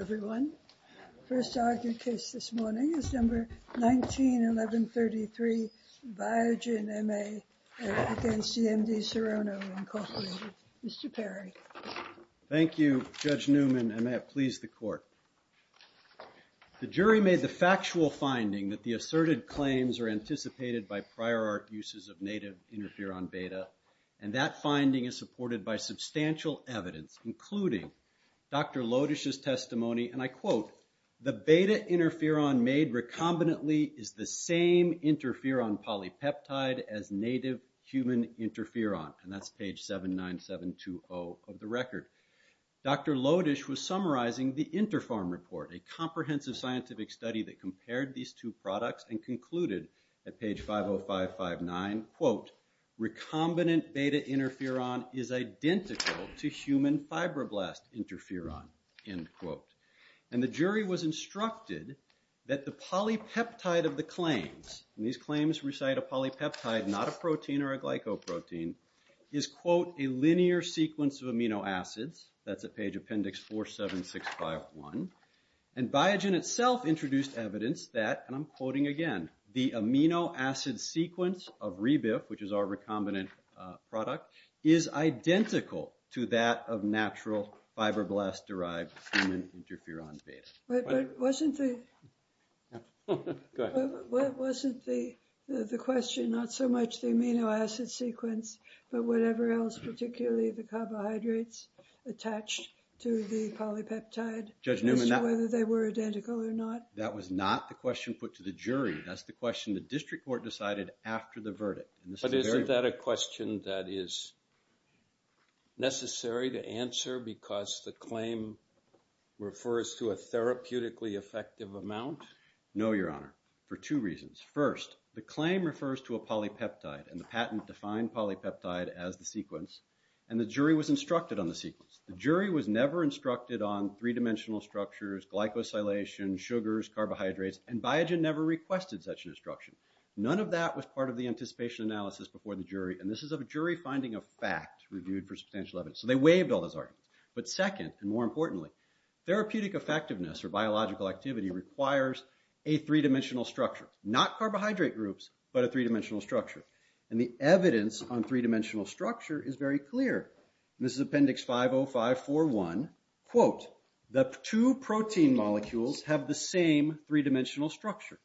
Mr. Perry. Thank you, Judge Newman, and may it please the Court. The jury made the factual finding that the asserted claims are anticipated by prior art uses of native interferon beta, and that finding is supported by substantial evidence, including Dr. Lodish's testimony, and I quote, the beta interferon made recombinantly is the same interferon polypeptide as native human interferon, and that's page 79720 of the record. Dr. Lodish was summarizing the Interpharm report, a comprehensive scientific study that compared these two products and concluded at page 50559, quote, recombinant beta interferon is identical to human fibroblast interferon, end quote. And the jury was instructed that the polypeptide of the claims, and these claims recite a polypeptide, not a protein or a glycoprotein, is, quote, a linear sequence of amino acids. That's at page appendix 47651. And Biogen itself introduced evidence that, and I'm quoting again, the amino acid sequence of Rebif, which is our recombinant product, is identical to that of natural fibroblast-derived human interferon beta. But wasn't the question not so much the amino acid sequence, but whatever else, particularly the carbohydrates attached to the polypeptide, as to whether they were identical or not? That's the question the district court decided after the verdict. But isn't that a question that is necessary to answer because the claim refers to a therapeutically effective amount? No, Your Honor, for two reasons. First, the claim refers to a polypeptide, and the patent defined polypeptide as the sequence, and the jury was instructed on the sequence. The jury was never instructed on three-dimensional structures, glycosylation, sugars, carbohydrates, and Biogen never requested such instruction. None of that was part of the anticipation analysis before the jury, and this is a jury finding of fact reviewed for substantial evidence. So they waived all those arguments. But second, and more importantly, therapeutic effectiveness or biological activity requires a three-dimensional structure, not carbohydrate groups, but a three-dimensional structure. And the evidence on three-dimensional structure is very clear. This is Appendix 50541, quote, the two protein molecules have the same three-dimensional structure.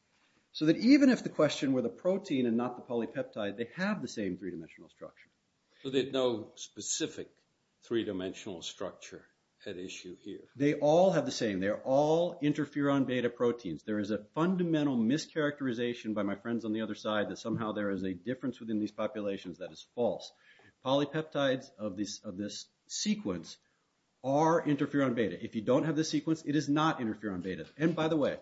So that even if the question were the protein and not the polypeptide, they have the same three-dimensional structure. So there's no specific three-dimensional structure at issue here? They all have the same. They all interfere on beta proteins. There is a fundamental mischaracterization by my friends on the other side that somehow there is a difference within these populations that is false. Polypeptides of this sequence are interfering on beta. If you don't have the sequence, it is not interfering on beta. And by the way,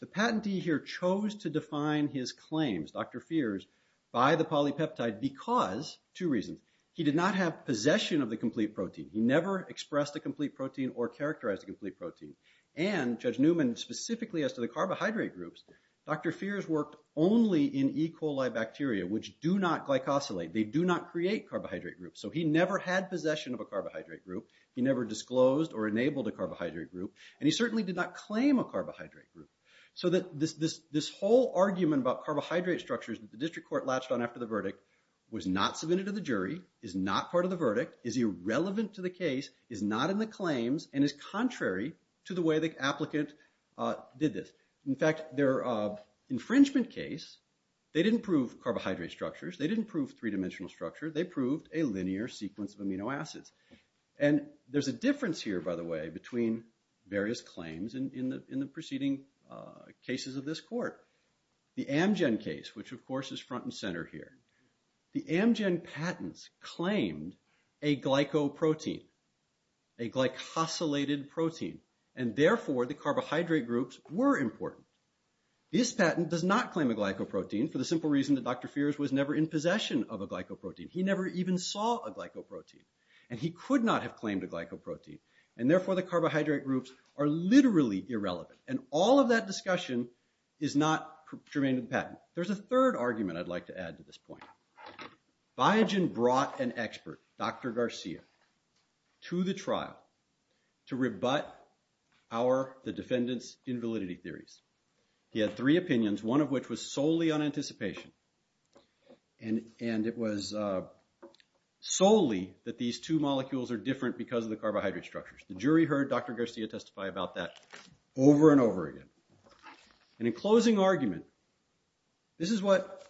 the patentee here chose to define his claims, Dr. Feers, by the polypeptide because two reasons. He did not have possession of the complete protein. He never expressed a complete protein or characterized a complete protein. And Judge Newman, specifically as to the carbohydrate groups, Dr. Feers worked only in E. coli bacteria, which do not glycosylate. They do not create carbohydrate groups. So he never had possession of a carbohydrate group. He never disclosed or enabled a carbohydrate group. And he certainly did not claim a carbohydrate group. So this whole argument about carbohydrate structures that the district court latched on after the verdict was not submitted to the jury, is not part of the verdict, is irrelevant to the case, is not in the claims, and is contrary to the way the applicant did this. In fact, their infringement case, they didn't prove carbohydrate structures. They didn't prove three-dimensional structure. They proved a linear sequence of amino acids. And there's a difference here, by the way, between various claims in the preceding cases of this court. The Amgen case, which of course is front and center here. The Amgen patents claimed a glycoprotein, a glycosylated protein. And therefore, the carbohydrate groups were important. This patent does not claim a glycoprotein for the simple reason that Dr. Feers was never in possession of a glycoprotein. He never even saw a glycoprotein. And he could not have claimed a glycoprotein. And therefore, the carbohydrate groups are literally irrelevant. And all of that discussion is not germane to the patent. There's a third argument I'd like to add to this point. Biogen brought an expert, Dr. Garcia, to the trial to rebut the defendant's invalidity theories. He had three opinions, one of which was solely on anticipation. And it was solely that these two molecules are different because of the carbohydrate structures. The jury heard Dr. Garcia testify about that over and over again. And in closing argument, this is what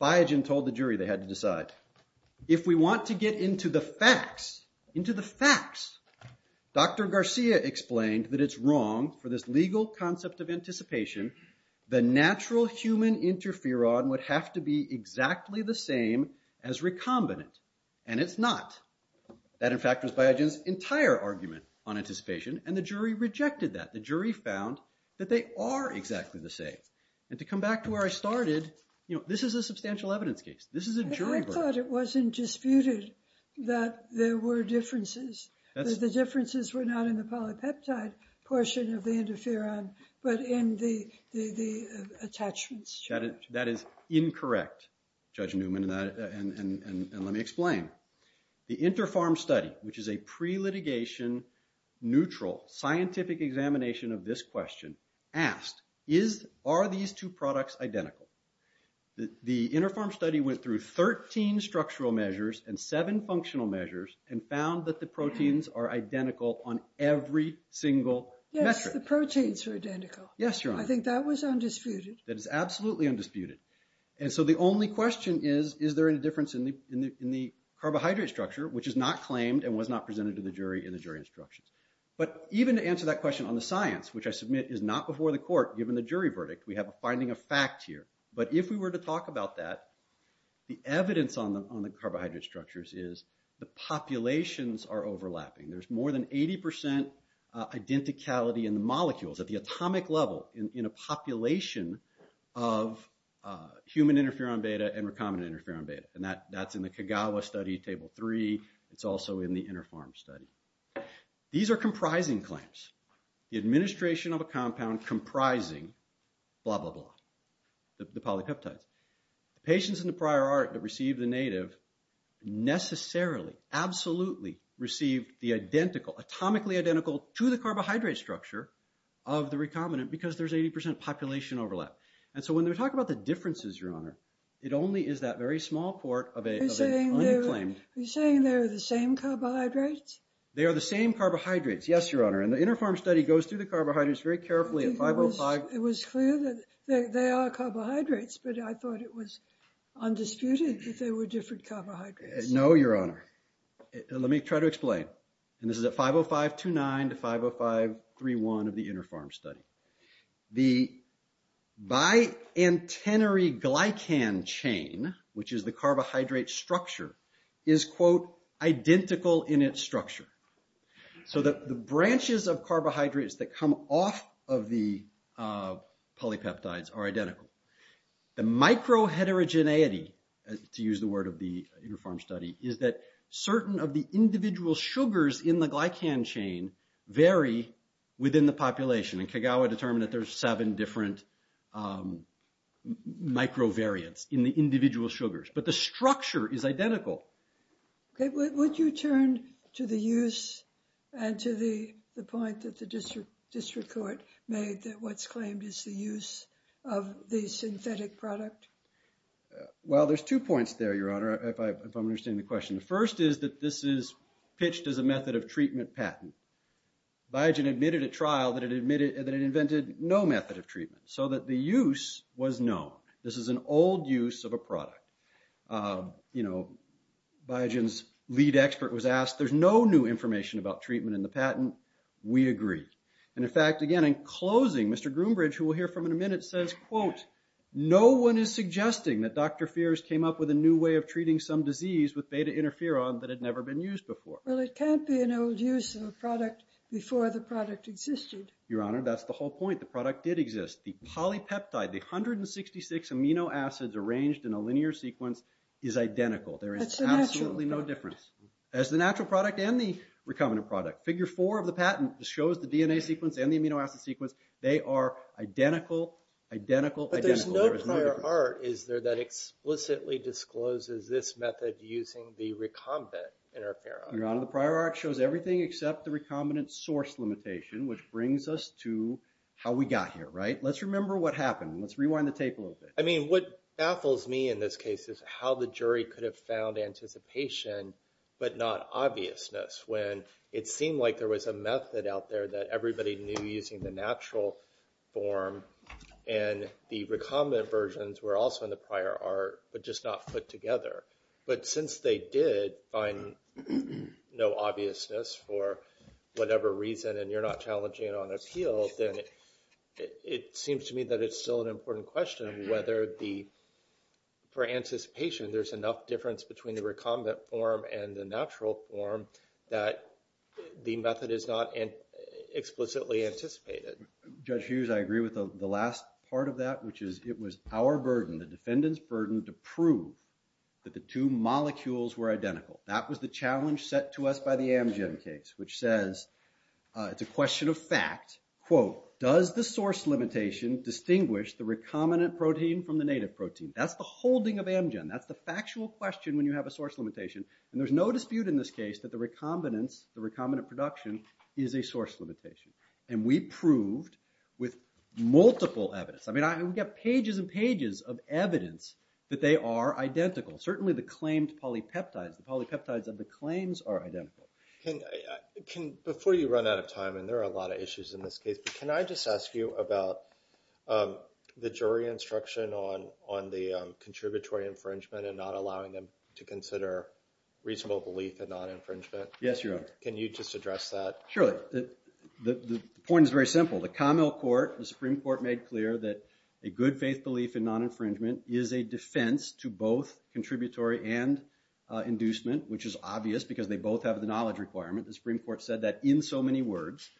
Biogen told the jury they had to decide. If we want to get into the facts, into the facts, Dr. Garcia explained that it's wrong for this legal concept of anticipation, the natural human interferon would have to be exactly the same as recombinant. And it's not. That, in fact, was Biogen's entire argument on anticipation. And the jury rejected that. The jury found that they are exactly the same. And to come back to where I started, this is a substantial evidence case. This is a jury verdict. I thought it wasn't disputed that there were differences, that the differences were not in the polypeptide portion of the interferon, but in the attachments. That is incorrect, Judge Newman, and let me explain. The Interpharm study, which is a pre-litigation, neutral, scientific examination of this question asked, are these two products identical? The Interpharm study went through 13 structural measures and seven functional measures and found that the proteins are identical on every single metric. Yes, the proteins are identical. Yes, Your Honor. I think that was undisputed. That is absolutely undisputed. And so the only question is, is there any difference in the carbohydrate structure, which is not claimed and was not presented to the jury in the jury instructions. But even to answer that question on the science, which I submit is not before the court, given the jury verdict, we have a finding of fact here. But if we were to talk about that, the evidence on the carbohydrate structures is the populations are overlapping. There's more than 80% identicality in the molecules at the atomic level in a population of human interferon beta and recombinant interferon beta. And that's in the Kagawa study, table three. It's also in the Interpharm study. These are comprising claims. The administration of a compound comprising blah, blah, blah. The polypeptides. The patients in the prior art that received the native necessarily, absolutely received the identical, atomically identical to the carbohydrate structure of the recombinant because there's 80% population overlap. And so when they talk about the differences, Your Honor, it only is that very small part of an unclaimed- Are you saying they're the same carbohydrates? They are the same carbohydrates. Yes, Your Honor. And the Interpharm study goes through the carbohydrates very carefully at 505- It was clear that they are carbohydrates, but I thought it was undisputed that they were different carbohydrates. No, Your Honor. Let me try to explain. And this is at 505-29 to 505-31 of the Interpharm study. The biantenary glycan chain, which is the carbohydrate structure, is, quote, identical in its structure. So the branches of carbohydrates that come off of the polypeptides are identical. The micro-heterogeneity, to use the word of the Interpharm study, is that certain of the individual sugars in the glycan chain vary within the population, and Kagawa determined that there's seven different micro-variants in the individual sugars, but the structure is identical. Okay, would you turn to the use and to the point that the district court made that what's claimed is the use of the synthetic product? Well, there's two points there, Your Honor, if I'm understanding the question. The first is that this is pitched as a method of treatment patent. Biogen admitted at trial that it invented no method of treatment, so that the use was known. This is an old use of a product. You know, Biogen's lead expert was asked, there's no new information about treatment in the patent. We agree. And in fact, again, in closing, Mr. Groombridge, who we'll hear from in a minute, says, quote, no one is suggesting that Dr. Feers came up with a new way of treating some disease with beta interferon that had never been used before. Well, it can't be an old use of a product before the product existed. Your Honor, that's the whole point. The product did exist. The polypeptide, the 166 amino acids arranged in a linear sequence, is identical. There is absolutely no difference. As the natural product and the recombinant product. Figure four of the patent shows the DNA sequence and the amino acid sequence. They are identical, identical, identical. But there's no prior art, is there, that explicitly discloses this method using the recombinant interferon? Your Honor, the prior art shows everything except the recombinant source limitation, which brings us to how we got here, right? Let's remember what happened. Let's rewind the tape a little bit. I mean, what baffles me in this case is how the jury could have found anticipation but not obviousness, when it seemed like there was a method out there that everybody knew using the natural form, and the recombinant versions were also in the prior art, but just not put together. But since they did find no obviousness for whatever reason, and you're not challenging it on appeal, then it seems to me that it's still an important question whether for anticipation there's enough difference between the recombinant form and the natural form that the method is not explicitly anticipated. Judge Hughes, I agree with the last part of that, which is it was our burden, the defendant's burden, to prove that the two molecules were identical. That was the challenge set to us by the Amgen case, which says, it's a question of fact, quote, does the source limitation distinguish the recombinant protein from the native protein? That's the holding of Amgen. That's the factual question when you have a source limitation. And there's no dispute in this case that the recombinance, the recombinant production, is a source limitation. And we proved with multiple evidence. I mean, we've got pages and pages of evidence that they are identical. Certainly, the claimed polypeptides, the polypeptides of the claims are identical. Before you run out of time, and there are a lot of issues in this case, can I just ask you about the jury instruction on the contributory infringement and not allowing them to consider reasonable belief in non-infringement? Yes, Your Honor. Can you just address that? Sure. The point is very simple. The Camille Court, the Supreme Court, made clear that a good faith belief in non-infringement is a defense to both contributory and inducement, which is obvious because they both have the knowledge requirement. The Supreme Court said that in so many words.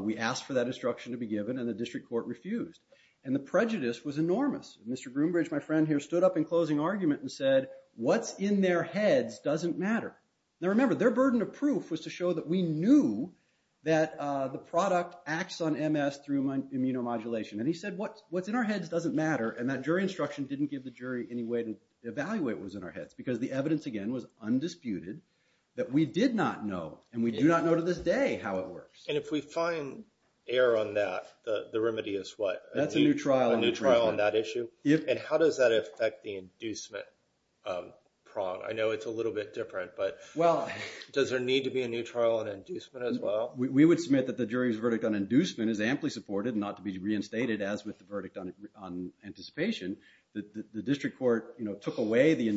We asked for that instruction to be given, and the district court refused. And the prejudice was enormous. Mr. Groombridge, my friend here, stood up in closing argument and said, what's in their heads doesn't matter. Now, remember, their burden of proof was to show that we knew that the product acts on MS through immunomodulation. And he said, what's in our heads doesn't matter, and that jury instruction didn't give the jury any way to evaluate what was in our heads because the evidence, again, was undisputed that we did not know, and we do not know to this day how it works. And if we find error on that, the remedy is what? That's a new trial. A new trial on that issue? Yes. And how does that affect the inducement prong? I know it's a little bit different, but does there need to be a new trial on inducement as well? We would submit that the jury's verdict on inducement is amply supported, not to be reinstated as with the verdict on anticipation. The district court took away the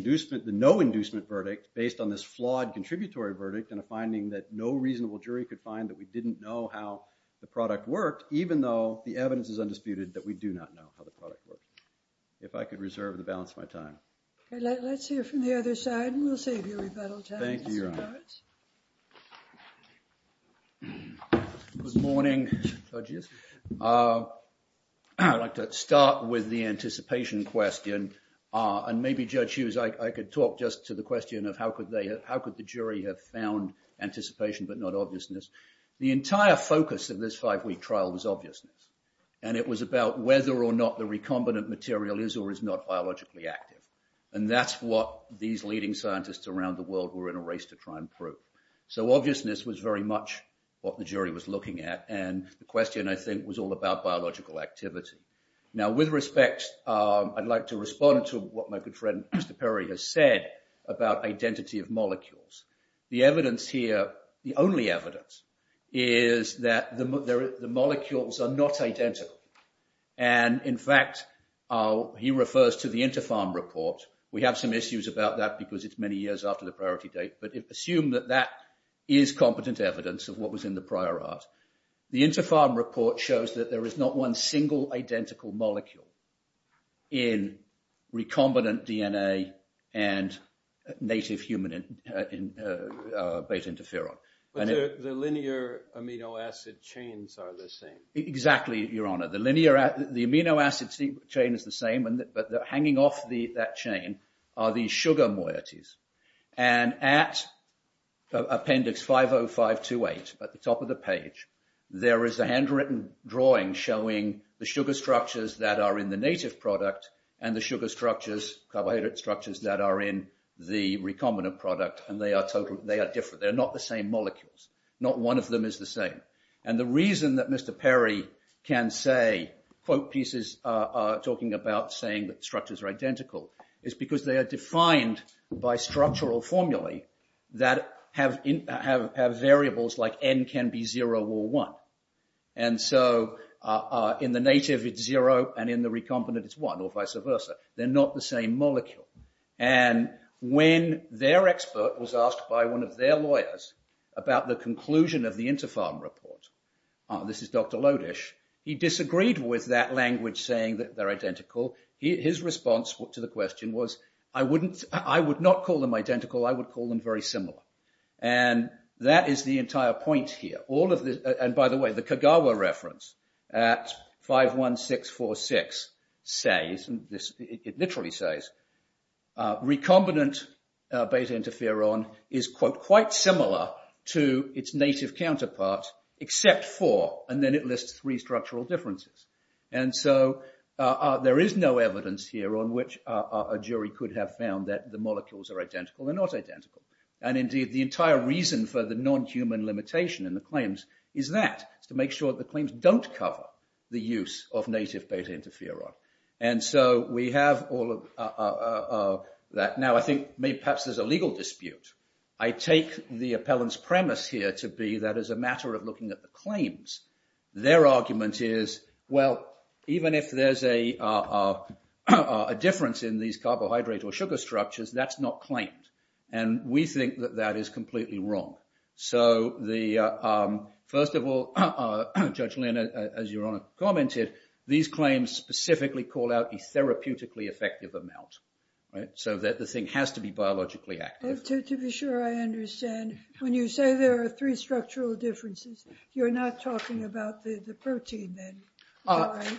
no-inducement verdict based on this flawed contributory verdict and a finding that no reasonable jury could find that we didn't know how the product worked, even though the evidence is undisputed that we do not know how the product worked. If I could reserve the balance of my time. Let's hear from the other side, and we'll save you rebuttal time. Thank you, Your Honor. Judge Harris? Good morning, judges. I'd like to start with the anticipation question. And maybe, Judge Hughes, I could talk just to the question of how could the jury have found anticipation but not obviousness. The entire focus of this five-week trial was obviousness. And it was about whether or not the recombinant material is or is not biologically active. And that's what these leading scientists around the world were in a race to try and prove. So obviousness was very much what the jury was looking at. And the question, I think, was all about biological activity. Now with respect, I'd like to respond to what my good friend, Mr. Perry, has said about identity of molecules. The evidence here, the only evidence, is that the molecules are not identical. And, in fact, he refers to the Interpharm report. We have some issues about that because it's many years after the priority date. But assume that that is competent evidence of what was in the prior art. The Interpharm report shows that there is not one single identical molecule in recombinant DNA and native human beta interferon. But the linear amino acid chains are the same. Exactly, Your Honor. The amino acid chain is the same, but hanging off that chain are the sugar moieties. And at appendix 50528, at the top of the page, there is a handwritten drawing showing the sugar structures that are in the native product and the sugar structures, carbohydrate structures, that are in the recombinant product. And they are different. They are not the same molecules. Not one of them is the same. And the reason that Mr. Perry can say, quote pieces talking about saying that structures are identical, is because they are defined by structural formulae that have variables like N can be 0 or 1. And so, in the native, it's 0, and in the recombinant, it's 1, or vice versa. They're not the same molecule. And when their expert was asked by one of their lawyers about the conclusion of the Yusufan report, this is Dr. Lodish, he disagreed with that language saying that they're identical. His response to the question was, I would not call them identical, I would call them very similar. And that is the entire point here. And by the way, the Kagawa reference at 51646 says, it literally says, recombinant beta interferon is, quote, quite similar to its native counterpart, except for, and then it lists three structural differences. And so, there is no evidence here on which a jury could have found that the molecules are identical or not identical. And indeed, the entire reason for the non-human limitation in the claims is that, is to make sure that the claims don't cover the use of native beta interferon. And so, we have all of that. Now, I think maybe perhaps there's a legal dispute. I take the appellant's premise here to be that as a matter of looking at the claims, their argument is, well, even if there's a difference in these carbohydrate or sugar structures, that's not claimed. And we think that that is completely wrong. So first of all, Judge Lynn, as Your Honor commented, these claims specifically call out a therapeutically effective amount. So, that the thing has to be biologically active. To be sure I understand, when you say there are three structural differences, you're not talking about the protein then?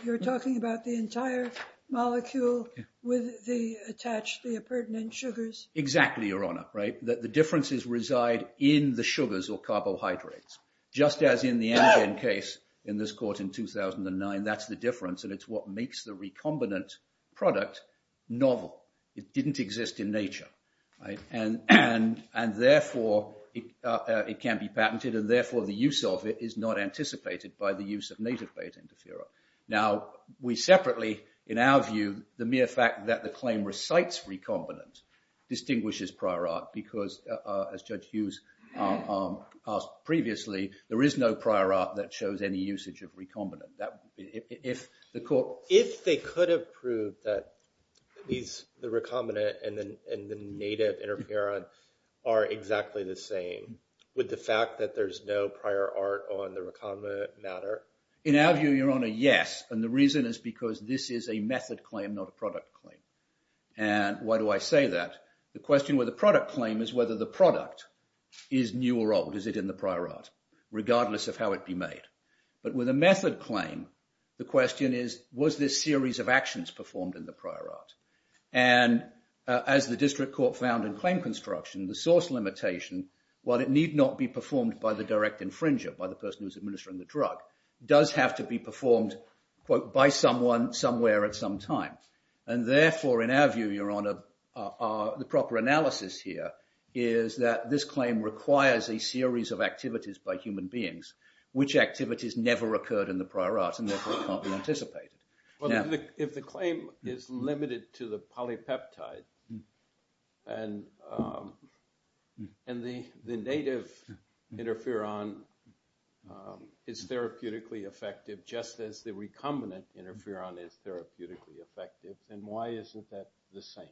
You're talking about the entire molecule with the attached, the pertinent sugars? Exactly, Your Honor. Right? That the differences reside in the sugars or carbohydrates. Just as in the case in this court in 2009, that's the difference and it's what makes the recombinant product novel. It didn't exist in nature. And therefore, it can be patented and therefore, the use of it is not anticipated by the use of native beta interferon. Now, we separately, in our view, the mere fact that the claim recites recombinant distinguishes prior art because as Judge Hughes asked previously, there is no prior art that shows any usage of recombinant. If the court... If they could have proved that the recombinant and the native interferon are exactly the same with the fact that there's no prior art on the recombinant matter? In our view, Your Honor, yes. And the reason is because this is a method claim, not a product claim. And why do I say that? The question with the product claim is whether the product is new or old. Is it in the prior art? Regardless of how it be made. But with a method claim, the question is, was this series of actions performed in the prior art? And as the district court found in claim construction, the source limitation, while it need not be performed by the direct infringer, by the person who's administering the drug, does have to be performed, quote, by someone somewhere at some time. And therefore, in our view, Your Honor, the proper analysis here is that this claim requires a series of activities by human beings, which activities never occurred in the prior art, and therefore can't be anticipated. Well, if the claim is limited to the polypeptide and the native interferon is therapeutically effective, just as the recombinant interferon is therapeutically effective, then why isn't that the same?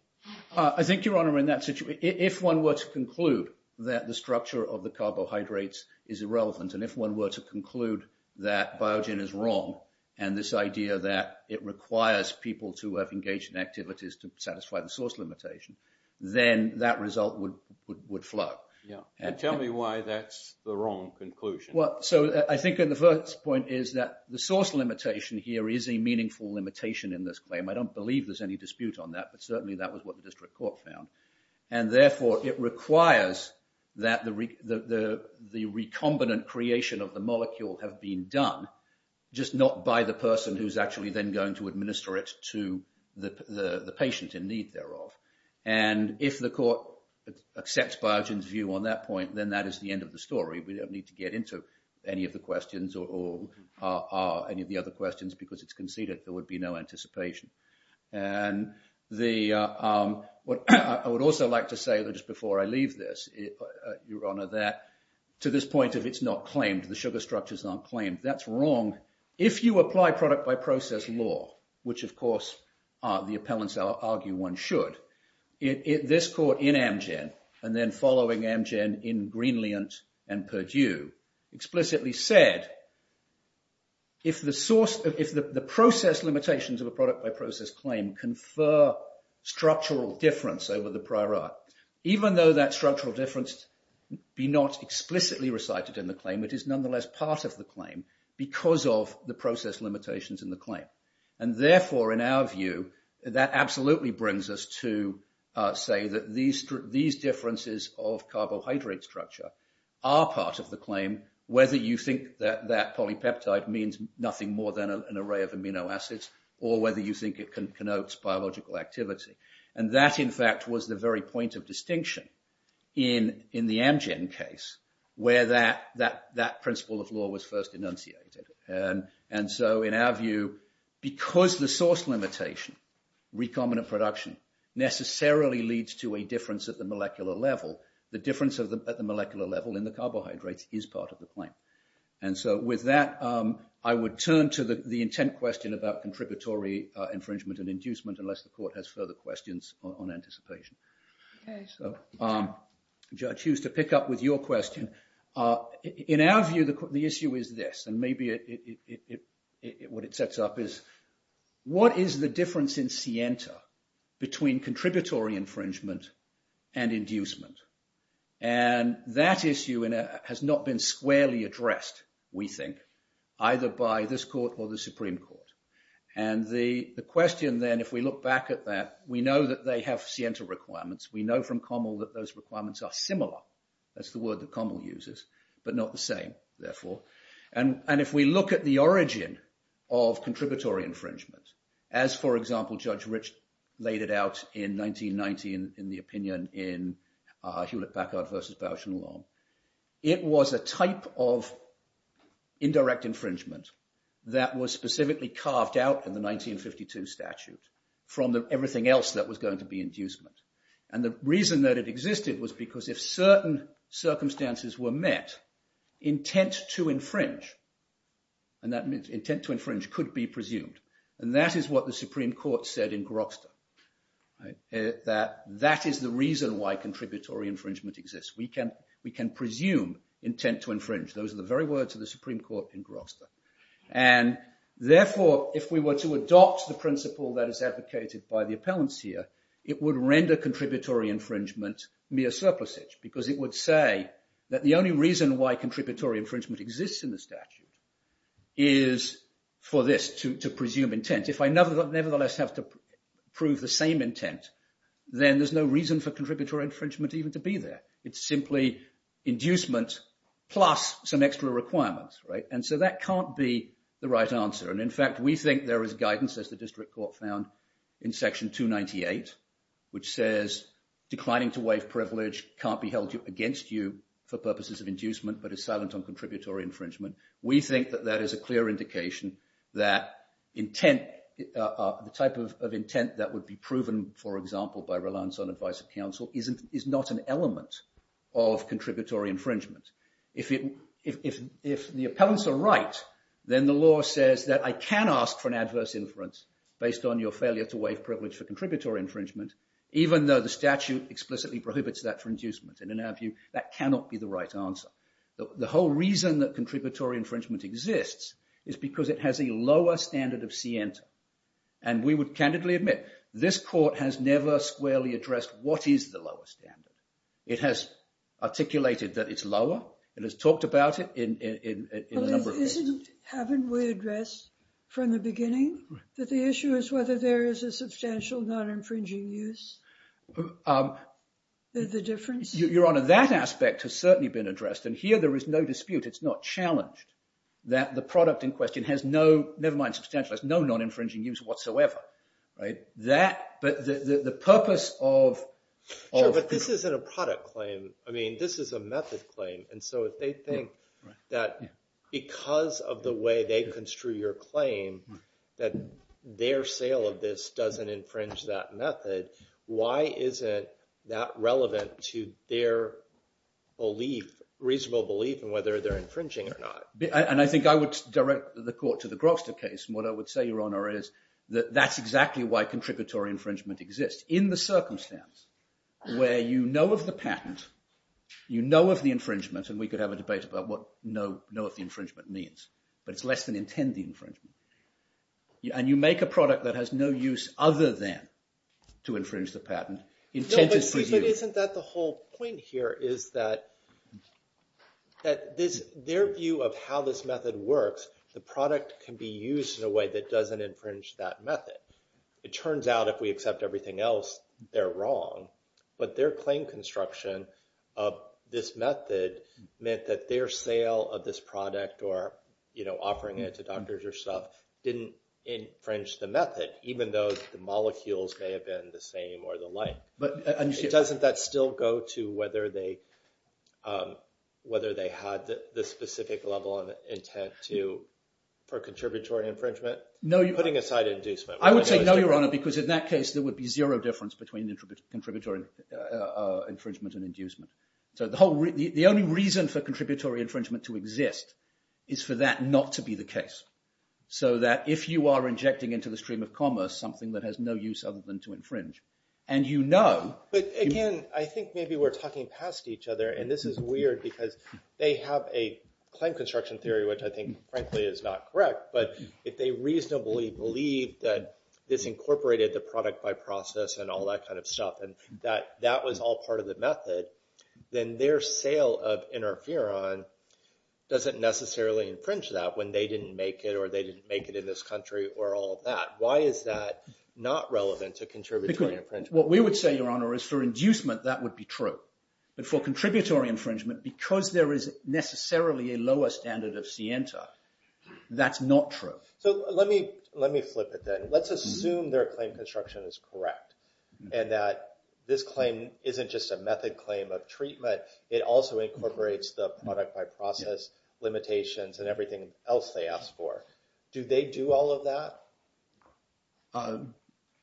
I think, Your Honor, in that situation, if one were to conclude that the structure of the carbohydrates is irrelevant, and if one were to conclude that Biogen is wrong, and this idea that it requires people to have engaged in activities to satisfy the source limitation, then that result would float. Yeah. And tell me why that's the wrong conclusion. Well, so I think the first point is that the source limitation here is a meaningful limitation in this claim. I don't believe there's any dispute on that, but certainly that was what the district court found. And therefore, it requires that the recombinant creation of the molecule have been done, just not by the person who's actually then going to administer it to the patient in need thereof. And if the court accepts Biogen's view on that point, then that is the end of the story. We don't need to get into any of the questions or any of the other questions because it's not worth the anticipation. And I would also like to say that just before I leave this, Your Honor, that to this point of it's not claimed, the sugar structure's not claimed, that's wrong. If you apply product by process law, which of course the appellants argue one should, this court in Amgen, and then following Amgen in Greenland and Purdue, explicitly said, if the process limitations of a product by process claim confer structural difference over the prior art, even though that structural difference be not explicitly recited in the claim, it is nonetheless part of the claim because of the process limitations in the claim. And therefore, in our view, that absolutely brings us to say that these differences of polypeptide means nothing more than an array of amino acids or whether you think it connotes biological activity. And that in fact was the very point of distinction in the Amgen case where that principle of law was first enunciated. And so in our view, because the source limitation, recombinant production, necessarily leads to a difference at the molecular level, the difference at the molecular level in the carbohydrates is part of the claim. And so with that, I would turn to the intent question about contributory infringement and inducement unless the court has further questions on anticipation. Okay. So, Judge Hughes, to pick up with your question, in our view, the issue is this. And maybe what it sets up is, what is the difference in scienta between contributory infringement and inducement? And that issue has not been squarely addressed, we think, either by this court or the Supreme Court. And the question then, if we look back at that, we know that they have scienta requirements. We know from Kommel that those requirements are similar. That's the word that Kommel uses, but not the same, therefore. And if we look at the origin of contributory infringement, as for example, Judge Rich laid it out in 1990 in the opinion in Hewlett-Packard versus Bausch and Long, it was a type of indirect infringement that was specifically carved out in the 1952 statute from everything else that was going to be inducement. And the reason that it existed was because if certain circumstances were met, intent to infringe, and that means intent to infringe could be presumed, and that is what the Supreme Court said in Grokster, that that is the reason why contributory infringement exists. We can presume intent to infringe. Those are the very words of the Supreme Court in Grokster. And therefore, if we were to adopt the principle that is advocated by the appellants here, it would render contributory infringement mere surplusage, because it would say that the only reason why contributory infringement exists in the statute is for this, to presume intent. If I nevertheless have to prove the same intent, then there's no reason for contributory infringement even to be there. It's simply inducement plus some extra requirements, right? And so that can't be the right answer. And in fact, we think there is guidance, as the district court found in section 298, which says declining to waive privilege can't be held against you for purposes of inducement, but is silent on contributory infringement. We think that that is a clear indication that intent, the type of intent that would be proven, for example, by reliance on advice of counsel, is not an element of contributory infringement. If the appellants are right, then the law says that I can ask for an adverse inference based on your failure to waive privilege for contributory infringement, even though the statute explicitly prohibits that for inducement. And in our view, that cannot be the right answer. The whole reason that contributory infringement exists is because it has a lower standard of scienta. And we would candidly admit, this court has never squarely addressed what is the lowest standard. It has articulated that it's lower. It has talked about it in a number of cases. But haven't we addressed from the beginning that the issue is whether there is a substantial non-infringing use? The difference? Your Honor, that aspect has certainly been addressed. And here, there is no dispute. It's not challenged that the product in question has no, never mind substantial, has no non-infringing use whatsoever. Right? That, but the purpose of... Sure, but this isn't a product claim. I mean, this is a method claim. And so if they think that because of the way they construe your claim, that their sale of this doesn't infringe that method, why isn't that relevant to their belief, reasonable belief in whether they're infringing or not? And I think I would direct the court to the Grokster case. And what I would say, Your Honor, is that that's exactly why contributory infringement exists. In the circumstance where you know of the patent, you know of the infringement, and we could have a debate about what know of the infringement means, but it's less than intend the infringement. And you make a product that has no use other than to infringe the patent, intended for you. No, but isn't that the whole point here, is that their view of how this method works, the product can be used in a way that doesn't infringe that method. It turns out if we accept everything else, they're wrong. But their claim construction of this method meant that their sale of this product or, you know, offering it to doctors or stuff didn't infringe the method, even though the molecules may have been the same or the like. But doesn't that still go to whether they had the specific level of intent for contributory infringement? No. Putting aside inducement. I would say no, Your Honor, because in that case, there would be zero difference between the contributory infringement and inducement. So the only reason for contributory infringement to exist is for that not to be the case. So that if you are injecting into the stream of commerce something that has no use other than to infringe, and you know- But again, I think maybe we're talking past each other, and this is weird, because they have a claim construction theory, which I think, frankly, is not correct. But if they reasonably believe that this incorporated the product by process and all that kind of then their sale of interferon doesn't necessarily infringe that when they didn't make it or they didn't make it in this country or all that. Why is that not relevant to contributory infringement? What we would say, Your Honor, is for inducement, that would be true. But for contributory infringement, because there is necessarily a lower standard of scienta, that's not true. So let me flip it then. Let's assume their claim construction is correct and that this claim isn't just a method claim of treatment. It also incorporates the product by process limitations and everything else they ask for. Do they do all of that?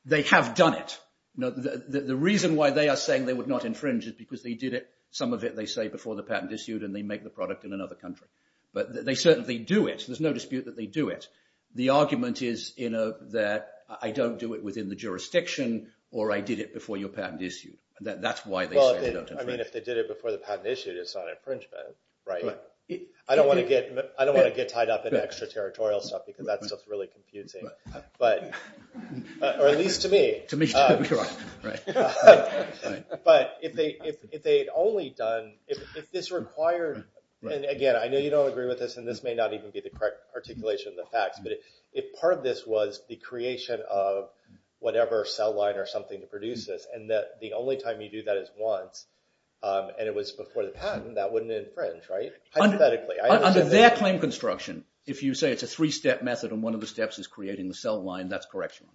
They have done it. The reason why they are saying they would not infringe is because they did it. Some of it they say before the patent issued, and they make the product in another country. But they certainly do it. There's no dispute that they do it. The argument is that I don't do it within the jurisdiction, or I did it before your patent issued. That's why they say they don't infringe. Well, I mean, if they did it before the patent issued, it's not infringement, right? I don't want to get tied up in extra-territorial stuff, because that stuff is really confusing. Or at least to me. To me, too. You're right. Right. Right. But if they had only done, if this required, and again, I know you don't agree with this, and this may not even be the correct articulation of the facts, but if part of this was the only time you do that is once, and it was before the patent, that wouldn't infringe, right? Hypothetically. Under their claim construction, if you say it's a three-step method, and one of the steps is creating the cell line, that's correctional.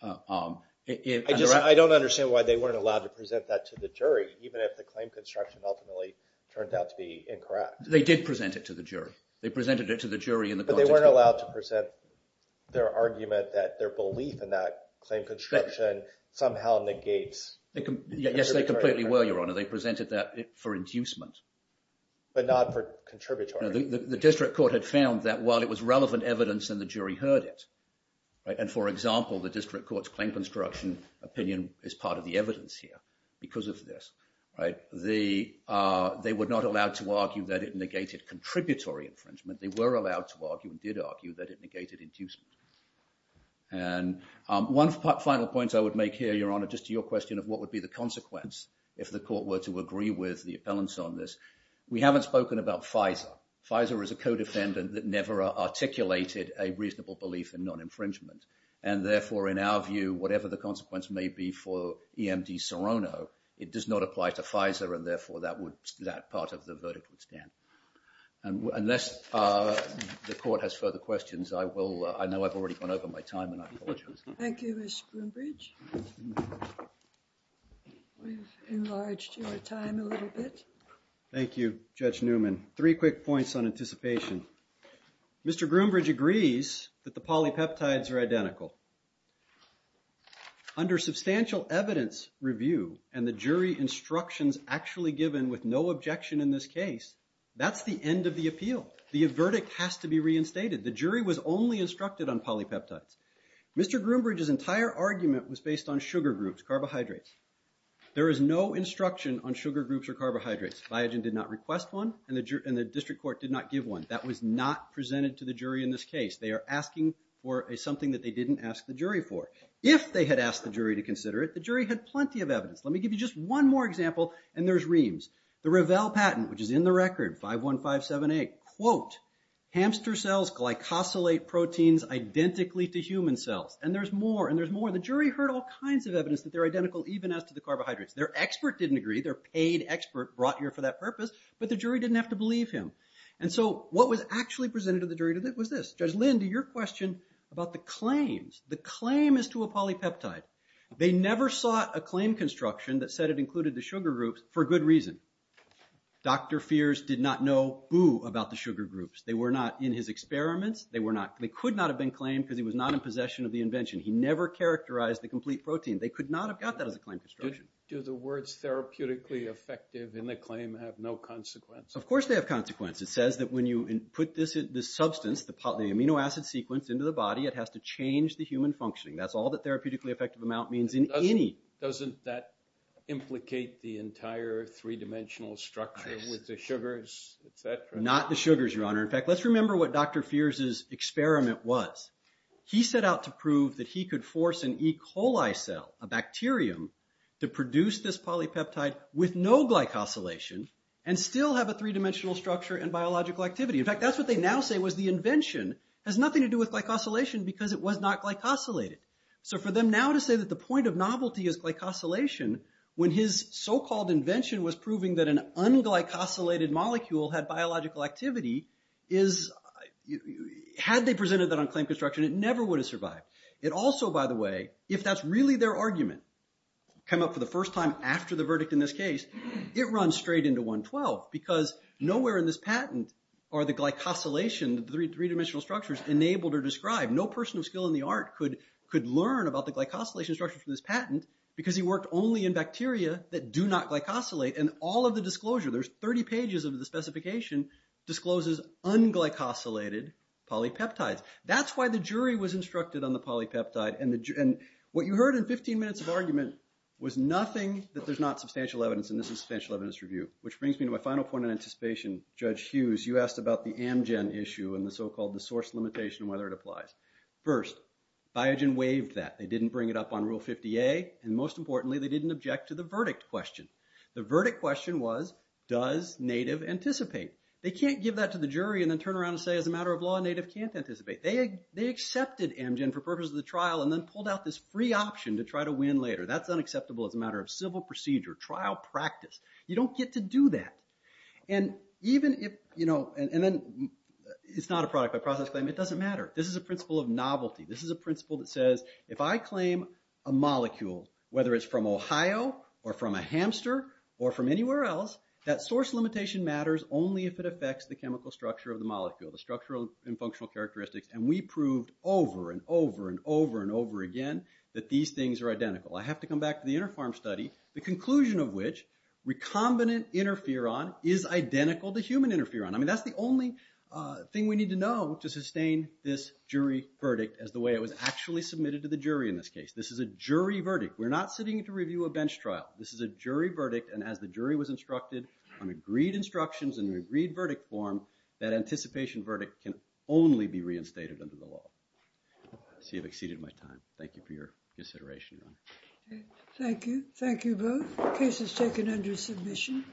I don't understand why they weren't allowed to present that to the jury, even if the claim construction ultimately turned out to be incorrect. They did present it to the jury. They presented it to the jury in the context of the patent. But they weren't allowed to present their argument that their belief in that claim construction somehow negates. Yes, they completely were, Your Honor. They presented that for inducement. But not for contributory. The district court had found that while it was relevant evidence and the jury heard it, and for example, the district court's claim construction opinion is part of the evidence here because of this. They were not allowed to argue that it negated contributory infringement. They were allowed to argue, and did argue, that it negated inducement. And one final point I would make here, Your Honor, just to your question of what would be the consequence if the court were to agree with the appellants on this, we haven't spoken about FISA. FISA is a co-defendant that never articulated a reasonable belief in non-infringement. And therefore, in our view, whatever the consequence may be for EMD Serrano, it does not apply to FISA, and therefore, that would, that part of the verdict would stand. And unless the court has further questions, I will, I know I've already gone over my time and I apologize. Thank you, Mr. Groombridge. We've enlarged your time a little bit. Thank you, Judge Newman. Three quick points on anticipation. Mr. Groombridge agrees that the polypeptides are identical. Under substantial evidence review, and the jury instructions actually given with no objection in this case, that's the end of the appeal. The verdict has to be reinstated. The jury was only instructed on polypeptides. Mr. Groombridge's entire argument was based on sugar groups, carbohydrates. There is no instruction on sugar groups or carbohydrates. Biogen did not request one, and the district court did not give one. That was not presented to the jury in this case. They are asking for something that they didn't ask the jury for. If they had asked the jury to consider it, the jury had plenty of evidence. Let me give you just one more example, and there's Reams. The Revell patent, which is in the record, 51578, quote, hamster cells glycosylate proteins identically to human cells. And there's more, and there's more. The jury heard all kinds of evidence that they're identical even as to the carbohydrates. Their expert didn't agree. Their paid expert brought here for that purpose, but the jury didn't have to believe him. And so what was actually presented to the jury was this. Judge Lind, to your question about the claims, the claim is to a polypeptide. They never sought a claim construction that said it included the sugar groups for good reason. Dr. Feers did not know, boo, about the sugar groups. They were not in his experiments. They could not have been claimed because he was not in possession of the invention. He never characterized the complete protein. They could not have got that as a claim construction. Do the words therapeutically effective in the claim have no consequence? Of course they have consequence. It says that when you put this substance, the amino acid sequence, into the body, it has to change the human functioning. That's all that therapeutically effective amount means in any... Doesn't that implicate the entire three-dimensional structure with the sugars, et cetera? Not the sugars, Your Honor. In fact, let's remember what Dr. Feers' experiment was. He set out to prove that he could force an E. coli cell, a bacterium, to produce this polypeptide with no glycosylation and still have a three-dimensional structure and biological activity. In fact, that's what they now say was the invention has nothing to do with glycosylation because it was not glycosylated. So for them now to say that the point of novelty is glycosylation when his so-called invention was proving that an un-glycosylated molecule had biological activity, had they presented that on claim construction, it never would have survived. It also, by the way, if that's really their argument, come up for the first time after the verdict in this case, it runs straight into 112 because nowhere in this patent are the glycosylation, the three-dimensional structures, enabled or described. No person of skill in the art could learn about the glycosylation structure from this patent because he worked only in bacteria that do not glycosylate. And all of the disclosure, there's 30 pages of the specification, discloses un-glycosylated polypeptides. That's why the jury was instructed on the polypeptide. And what you heard in 15 minutes of argument was nothing that there's not substantial evidence. And this is substantial evidence review. Which brings me to my final point of anticipation. Judge Hughes, you asked about the Amgen issue and the so-called source limitation and whether it applies. First, Biogen waived that. They didn't bring it up on Rule 50A. And most importantly, they didn't object to the verdict question. The verdict question was, does Native anticipate? They can't give that to the jury and then turn around and say, as a matter of law, Native can't anticipate. They accepted Amgen for purposes of the trial and then pulled out this free option to try to win later. That's unacceptable as a matter of civil procedure, trial practice. You don't get to do that. And even if it's not a product by process claim, it doesn't matter. This is a principle of novelty. This is a principle that says, if I claim a molecule, whether it's from Ohio or from a hamster or from anywhere else, that source limitation matters only if it affects the chemical structure of the molecule, the structural and functional characteristics. And we proved over and over and over and over again that these things are identical. I have to come back to the Interpharm study, the conclusion of which recombinant interferon is identical to human interferon. I mean, that's the only thing we need to know to sustain this jury verdict as the way it was actually submitted to the jury in this case. This is a jury verdict. We're not sitting to review a bench trial. This is a jury verdict. And as the jury was instructed on agreed instructions and an agreed verdict form, that anticipation verdict can only be reinstated under the law. I see I've exceeded my time. Thank you for your consideration. Thank you. Thank you both. The case is taken under submission.